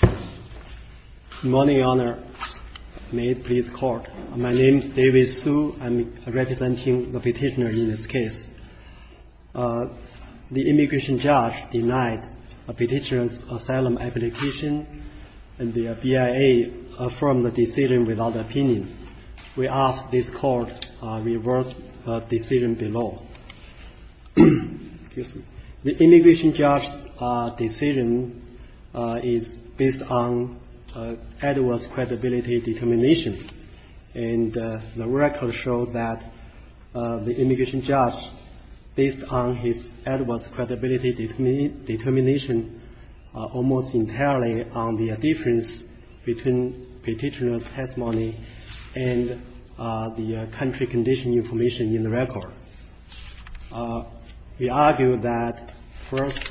Good morning, Your Honor. May it please the Court. My name is David Hsu. I'm representing the petitioner in this case. The immigration judge denied the petitioner's asylum application and the BIA affirmed the decision without opinion. We ask this Court reverse the decision below. The immigration judge's decision is based on Edwards' credibility determination and the record showed that the immigration judge based on his Edwards' credibility determination almost entirely on the difference between the petitioner's testimony and the country condition information in the record. We argue that, first,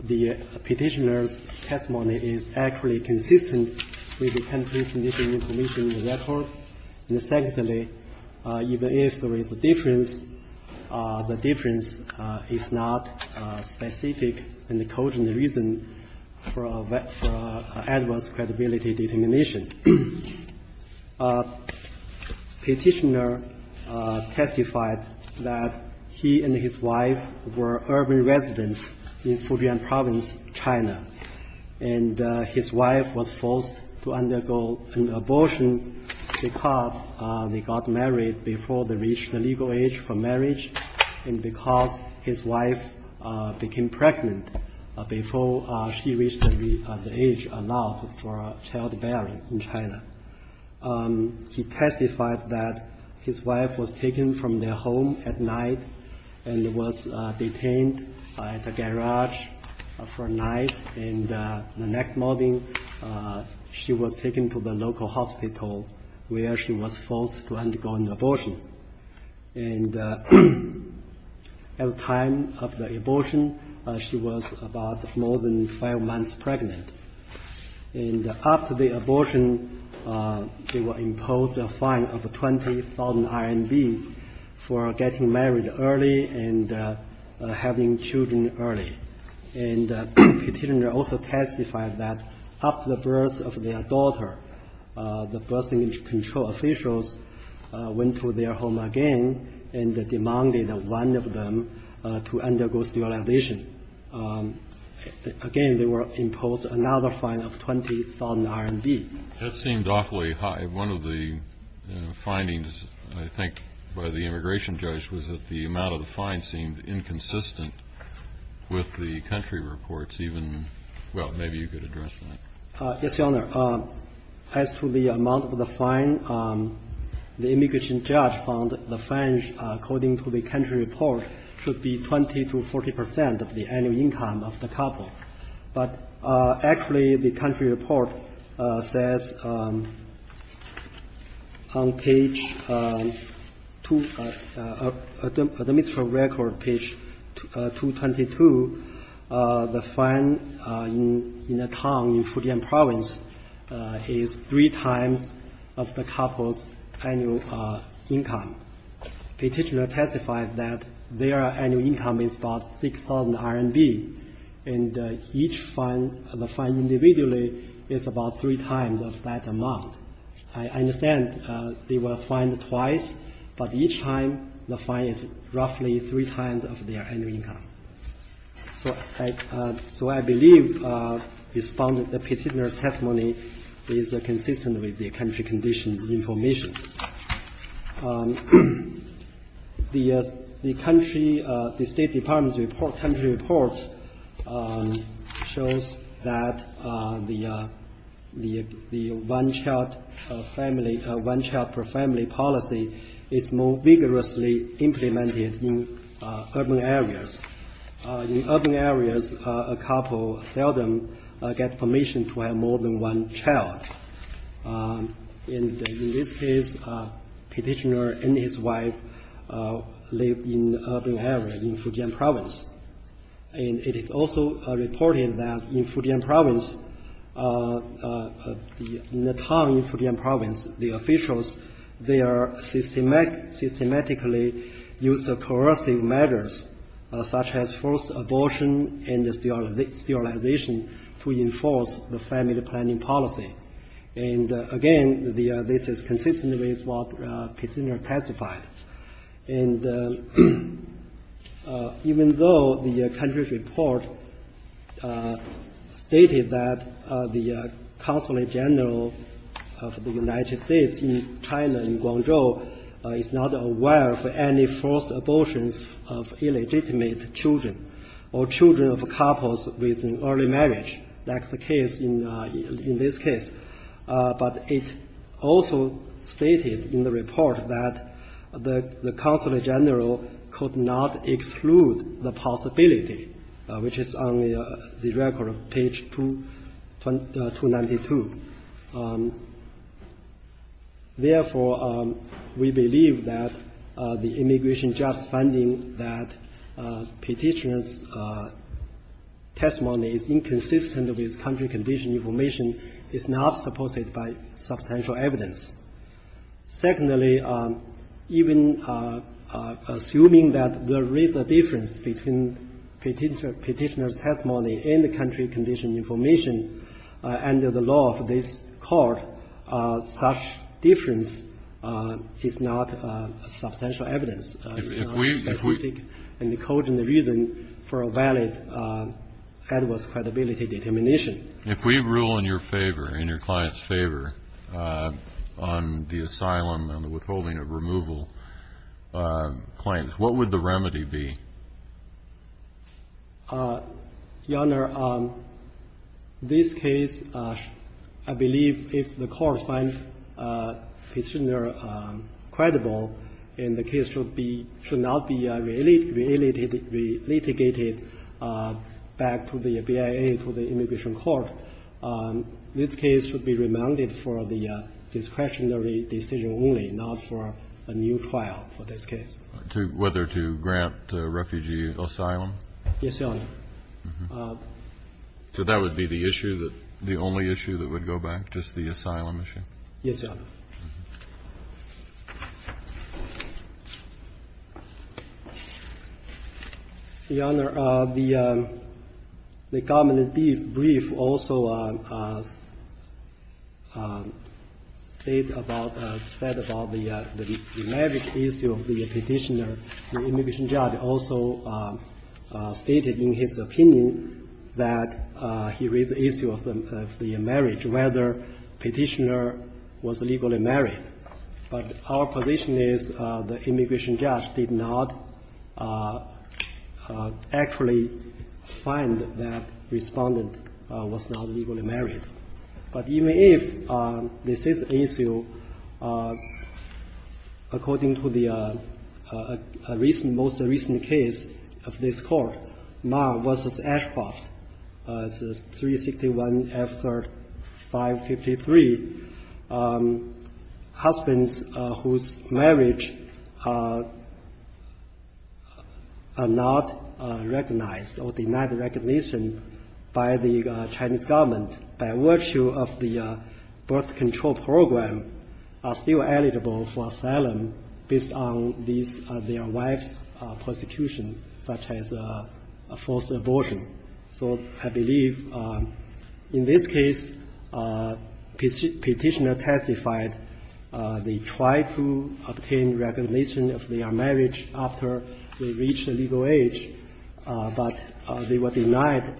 the petitioner's testimony is actually consistent with the country condition information in the record, and, secondly, even if there is a difference, the difference is not specific in the code and the reason for Edwards' credibility determination. The petitioner testified that he and his wife were urban residents in Fujian Province, China, and his wife was forced to undergo an abortion because they got married before they reached the legal age for marriage and because his wife became pregnant before she came to China. He testified that his wife was taken from their home at night and was detained at a garage for a night, and the next morning she was taken to the local hospital where she was forced to undergo an abortion. At the time of the abortion, she was about more than five months pregnant, and after the abortion, they were imposed a fine of 20,000 RMB for getting married early and having children early, and the petitioner also testified that after the birth of their daughter, the birth control officials went to their home again and demanded one of them to undergo sterilization. Again, they were imposed another fine of 20,000 RMB. Kennedy. That seemed awfully high. One of the findings, I think, by the immigration judge was that the amount of the fine seemed inconsistent with the country reports, even – well, maybe you could address that. Yes, Your Honor. As to the amount of the fine, the immigration judge found the fines, according to the country report, should be 20 to 40 percent of the annual income of the couple. But actually, the country report says on page – the administrative record, page 222, the fine in a town in Fujian province is three times of the couple's annual income. The petitioner testified that their annual income is about 6,000 RMB, and each fine – the fine individually is about three times of that amount. I understand they were fined twice, but each time the fine is roughly three times of their annual income. So I believe the petitioner's testimony is consistent with the country-conditioned information. The country – the State Department's report – country reports shows that the one-child family – one-child-per-family policy is more vigorously implemented in urban areas. In urban areas, a couple seldom get permission to have more than one child. In this case, the petitioner and his wife live in an urban area in Fujian province. And it is also reported that in Fujian province, in the town in Fujian province, the officials, they systematically use coercive measures, such as forced abortion and sterilization, to enforce the family planning policy. And again, this is consistent with what the petitioner testified. And even though the country's report stated that the Consulate General of the United States in China and Guangzhou is not aware of any forced abortions of illegitimate children, or children of couples with an early marriage, like the case in this case, but it also stated in the report that the Consulate General could not exclude the possibility, which is on the record, page 292. Therefore, we believe that the immigration judge finding that petitioner's testimony is inconsistent with country condition information is not supposed by substantial evidence. Secondly, even assuming that there is a difference between petitioner's testimony and the country condition information under the law of this court, such difference is not substantial evidence. It's not specific in the code and the reason for a valid adverse credibility determination. If we rule in your favor, in your client's favor, on the asylum and the withholding of removal claims, what would the remedy be? You Honor, this case, I believe, if the court finds the petitioner credible and the case should be – should not be relitigated back to the BIA, to the Immigration Court, this case should be remanded for the discretionary decision only, not for a new trial for this case. Whether to grant refugee asylum? Yes, Your Honor. So that would be the issue, the only issue that would go back, just the asylum issue? Yes, Your Honor. Your Honor, the government brief also said about the marriage issue of the petitioner. The immigration judge also stated in his opinion that he raised the issue of the marriage, whether petitioner was legally married. But our position is the immigration judge did not actually find that Respondent was not legally married. But even if this is the issue, according to the most recent case of this court, Marr v. Ashcroft, 361 F. 353, husbands whose marriage are not recognized or denied recognition by the Chinese government, by virtue of the birth control program, are still eligible for asylum based on their wife's prosecution, such as a forced abortion. So I believe in this case, petitioner testified they tried to obtain recognition of their marriage after they reached legal age, but they were denied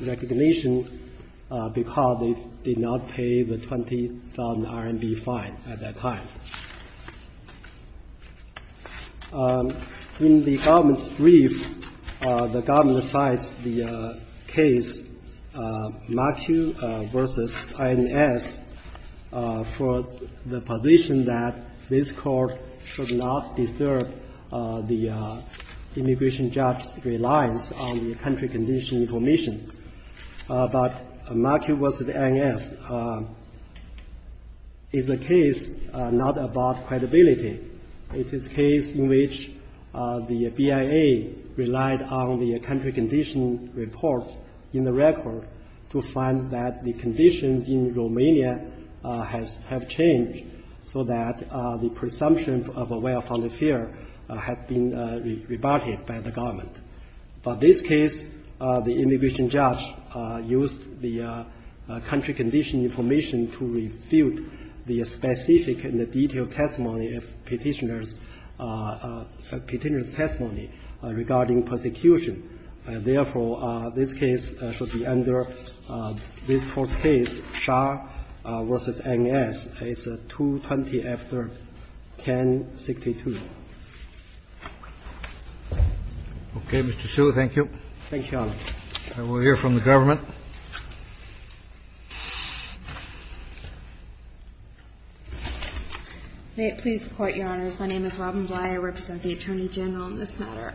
recognition because they did not pay the 20,000 RMB fine at that time. In the government's brief, the government cites the case Machu v. INS for the position that this court should not disturb the immigration judge's reliance on the country condition information. But Machu v. INS is a case not about credibility. It is a case in which the BIA relied on the country condition reports in the record to find that the conditions in Romania have changed so that the presumption of a well-founded fear had been rebutted by the government. But this case, the immigration judge used the country condition information to refute the specific and the detailed testimony of petitioner's testimony regarding persecution. Therefore, this case should be under this court's case, Shah v. INS. It's 220 after 1062. Okay, Mr. Hsu, thank you. Thank you, Your Honor. We'll hear from the government. May it please the Court, Your Honors. My name is Robin Bly. I represent the Attorney General in this matter.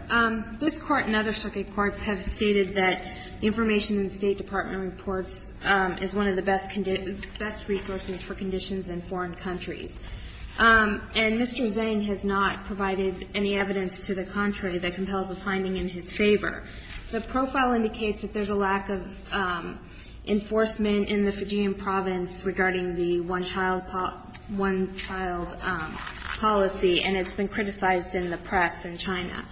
This Court and other circuit courts have stated that information in the State Department reports is one of the best resources for conditions in foreign countries. And Mr. Zhang has not provided any evidence to the contrary that compels a finding in his favor. The profile indicates that there's a lack of enforcement in the Fijian province regarding the one-child policy, and it's been criticized in the press in China.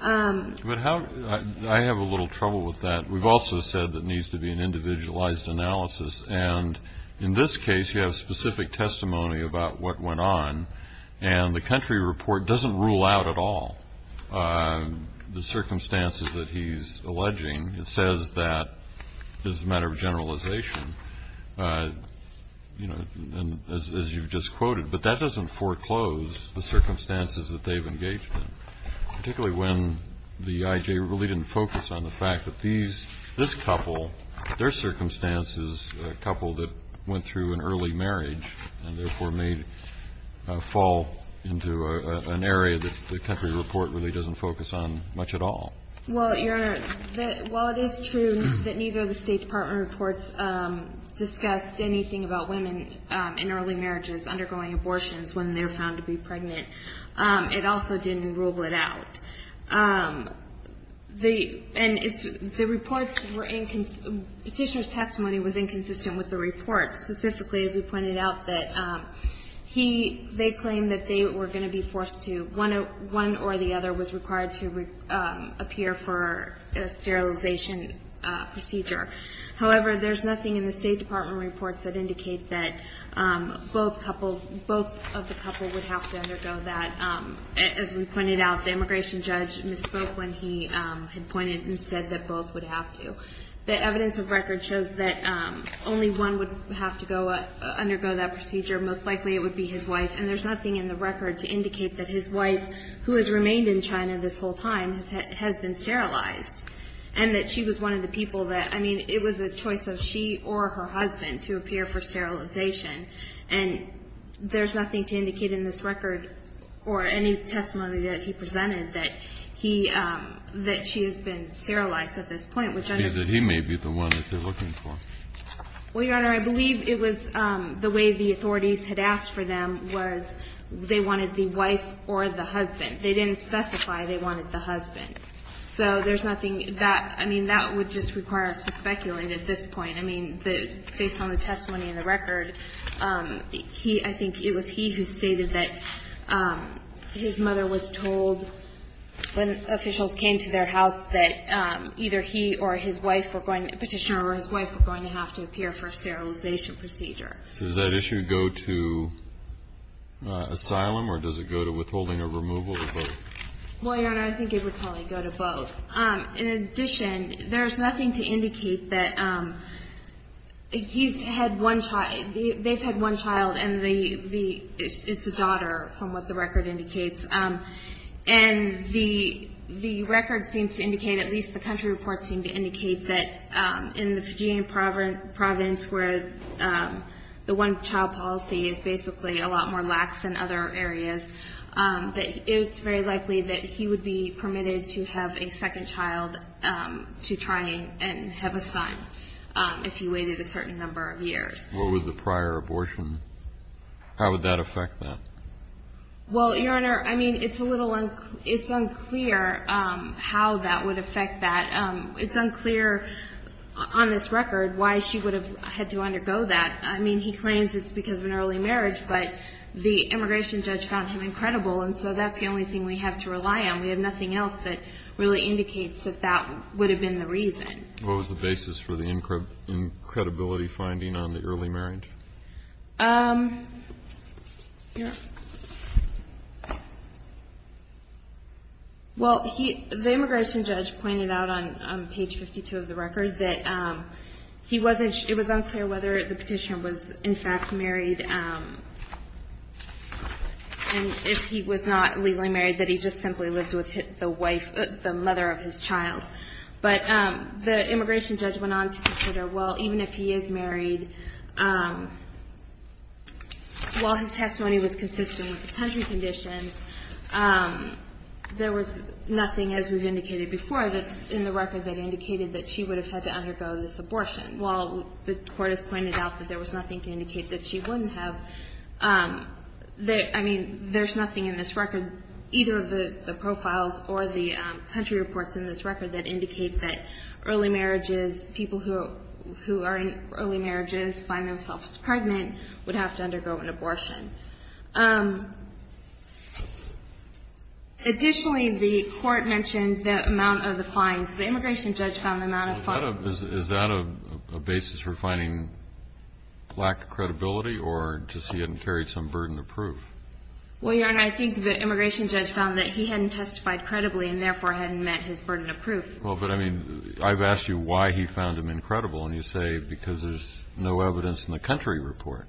But how ñ I have a little trouble with that. We've also said there needs to be an individualized analysis. And in this case, you have specific testimony about what went on, and the country report doesn't rule out at all the circumstances that he's alleging. It says that it's a matter of generalization, as you've just quoted. But that doesn't foreclose the circumstances that they've engaged in, particularly when the IJ really didn't focus on the fact that these ñ this couple, their circumstance is a couple that went through an early marriage and therefore may fall into an area that the country report really doesn't focus on much at all. Well, Your Honor, while it is true that neither of the State Department reports discussed anything about women in early marriages undergoing abortions when they're found to be pregnant, it also didn't rule it out. The ñ and it's ñ the reports were inconsistent ñ Petitioner's testimony was inconsistent with the report, specifically as we pointed out that he ñ they claimed that they were going to be forced to ñ one or the other was required to appear for a sterilization procedure. However, there's nothing in the State Department reports that indicate that both couples ñ both of the couple would have to undergo that. As we pointed out, the immigration judge misspoke when he had pointed and said that both would have to. The evidence of record shows that only one would have to go ñ undergo that procedure. Most likely it would be his wife. And there's nothing in the record to indicate that his wife, who has remained in China this whole time, has been sterilized, and that she was one of the people that ñ I mean, it was a choice of she or her husband to appear for sterilization. And there's nothing to indicate in this record or any testimony that he presented that he ñ that she has been sterilized at this point, which I understand. He may be the one that they're looking for. Well, Your Honor, I believe it was ñ the way the authorities had asked for them was they wanted the wife or the husband. They didn't specify they wanted the husband. So there's nothing that ñ I mean, that would just require us to speculate at this point. I mean, the ñ based on the testimony in the record, he ñ I think it was he who stated that his mother was told when officials came to their house that either he or his wife were going ñ petitioner or his wife were going to have to appear for a sterilization procedure. So does that issue go to asylum, or does it go to withholding or removal of both? Well, Your Honor, I think it would probably go to both. In addition, there's nothing to indicate that he's had one ñ they've had one child, and the ñ it's a daughter from what the record indicates. And the record seems to indicate, at least the country reports seem to indicate, that in the Fijian province where the one-child policy is basically a lot more lax in other areas, that it's very likely that he would be permitted to have a second child to try and have a son if he waited a certain number of years. Well, with the prior abortion, how would that affect that? Well, Your Honor, I mean, it's a little ñ it's unclear how that would affect that. It's unclear on this record why she would have had to undergo that. I mean, he claims it's because of an early marriage, but the immigration judge found him incredible, and so that's the only thing we have to rely on. We have nothing else that really indicates that that would have been the reason. What was the basis for the incredibility finding on the early marriage? Well, he ñ the immigration judge pointed out on page 52 of the record that he wasn't the petitioner was, in fact, married, and if he was not legally married, that he just simply lived with the wife ñ the mother of his child. But the immigration judge went on to consider, well, even if he is married, while his testimony was consistent with the country conditions, there was nothing, as we've indicated before, in the record that indicated that she would have had to undergo this abortion. While the Court has pointed out that there was nothing to indicate that she wouldn't have ñ I mean, there's nothing in this record, either of the profiles or the country reports in this record, that indicate that early marriages, people who are in early marriages, find themselves pregnant, would have to undergo an abortion. Additionally, the Court mentioned the amount of the fines. The immigration judge found the amount of fines ñ Is that a ñ is that a basis for finding lack of credibility, or just he hadn't carried some burden of proof? Well, Your Honor, I think the immigration judge found that he hadn't testified credibly and, therefore, hadn't met his burden of proof. Well, but, I mean, I've asked you why he found them incredible, and you say because there's no evidence in the country report.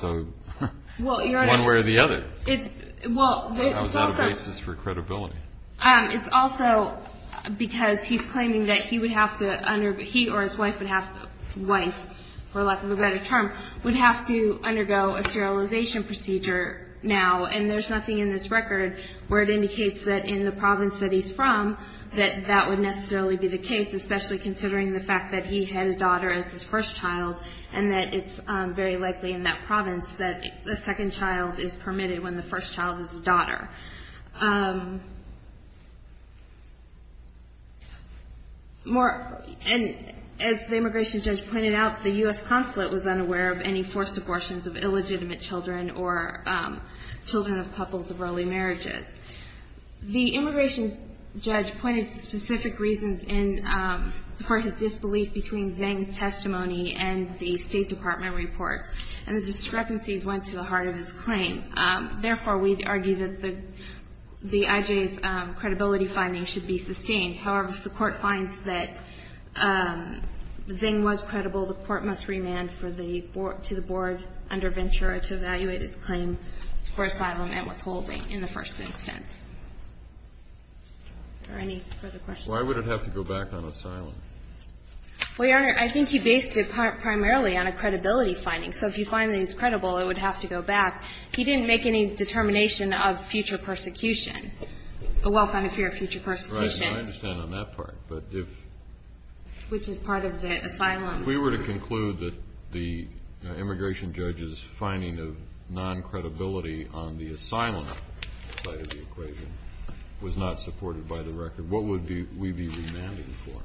So ñ Well, Your Honor ñ One way or the other. It's ñ well, it's also ñ How is that a basis for credibility? It's also because he's claiming that he would have to ñ he or his wife would have ñ wife, for lack of a better term, would have to undergo a serialization procedure now. And there's nothing in this record where it indicates that in the province that he's from, that that would necessarily be the case, especially considering the fact that he had a daughter as his first child, and that it's very likely in that province And as the immigration judge pointed out, the U.S. consulate was unaware of any forced abortions of illegitimate children or children of couples of early marriages. The immigration judge pointed to specific reasons in ñ for his disbelief between Zhang's testimony and the State Department reports, and the discrepancies went to the heart of his claim. Therefore, we'd argue that the ñ the IJ's credibility finding should be sustained. However, if the Court finds that Zhang was credible, the Court must remand for the ñ to the board under Ventura to evaluate his claim for asylum and withholding in the first instance. Are there any further questions? Why would it have to go back on asylum? Well, Your Honor, I think he based it primarily on a credibility finding. So if you find that he's credible, it would have to go back. He didn't make any determination of future persecution, a well-founded fear of future persecution. Right. I understand on that part. But if ñ Which is part of the asylum ñ If we were to conclude that the immigration judge's finding of non-credibility on the asylum side of the equation was not supported by the record, what would we be remanding for?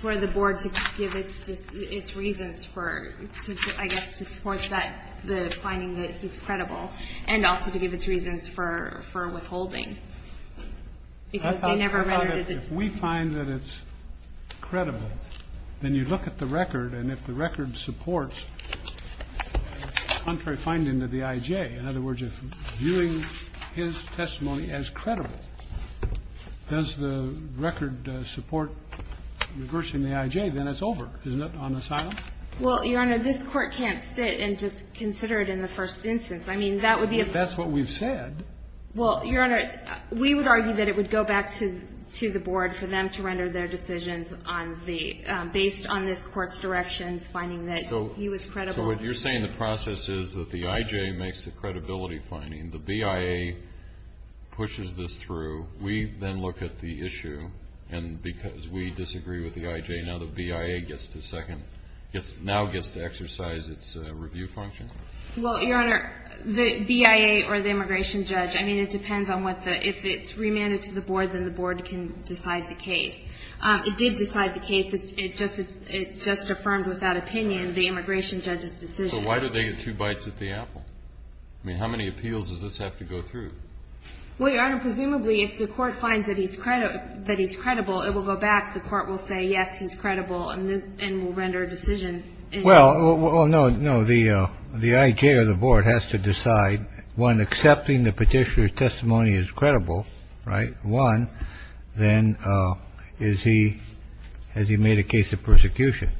For the board to give its reasons for, I guess, to support that ñ the finding that he's credible, and also to give its reasons for withholding. Because they never remanded it. I thought about it. If we find that it's credible, then you look at the record, and if the record supports contrary finding to the IJ, in other words, if viewing his testimony as credible, does the record support reversing the IJ? Then it's over, isn't it, on asylum? Well, Your Honor, this Court can't sit and just consider it in the first instance. I mean, that would be a ñ But that's what we've said. Well, Your Honor, we would argue that it would go back to the board for them to render their decisions on the ñ based on this Court's directions, finding that he was credible. So what you're saying, the process is that the IJ makes the credibility finding. The BIA pushes this through. We then look at the issue, and because we disagree with the IJ, now the BIA gets to second ñ now gets to exercise its review function. Well, Your Honor, the BIA or the immigration judge, I mean, it depends on what the ñ if it's remanded to the board, then the board can decide the case. It did decide the case. It just affirmed without opinion the immigration judge's decision. So why did they get two bites at the apple? I mean, how many appeals does this have to go through? Well, Your Honor, presumably if the Court finds that he's ñ that he's credible, it will go back. The Court will say, yes, he's credible, and will render a decision. Well, no, no. The IJ or the board has to decide, one, accepting the Petitioner's testimony is credible, right? One, then is he ñ has he made a case of persecution?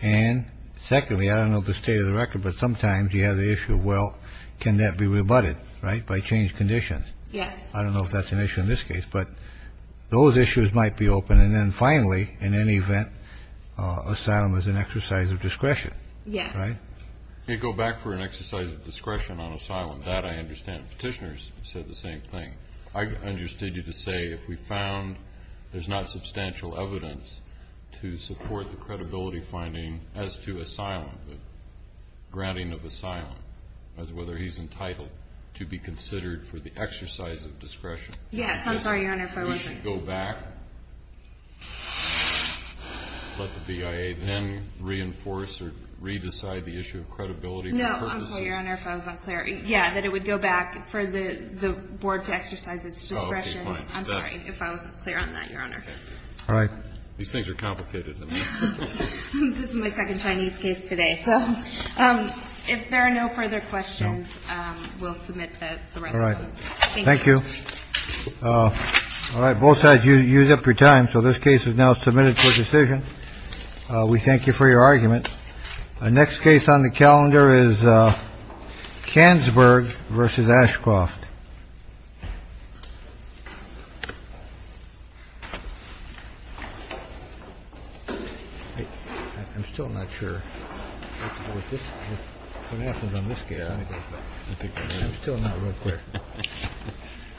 And secondly, I don't know the state of the record, but sometimes you have the issue of, well, can that be rebutted, right, by changed conditions? Yes. I don't know if that's an issue in this case, but those issues might be open. And then finally, in any event, asylum is an exercise of discretion. Yes. Right? You go back for an exercise of discretion on asylum. That I understand. Petitioners said the same thing. I understood you to say if we found there's not substantial evidence to support the credibility finding as to asylum, the granting of asylum, as whether he's entitled to be considered for the exercise of discretion. Yes. I'm sorry, Your Honor, if I wasn't ñ You should go back, let the BIA then reinforce or re-decide the issue of credibility. No. I'm sorry, Your Honor, if I was unclear. Yeah, that it would go back for the board to exercise its discretion. I'm sorry if I wasn't clear on that, Your Honor. All right. These things are complicated. This is my second Chinese case today. So if there are no further questions, we'll submit the rest. All right. Thank you. All right. Both sides, you used up your time. So this case is now submitted for decision. We thank you for your argument. Our next case on the calendar is Kansberg versus Ashcroft. I'm still not sure what happens on this case. I'm still not real clear.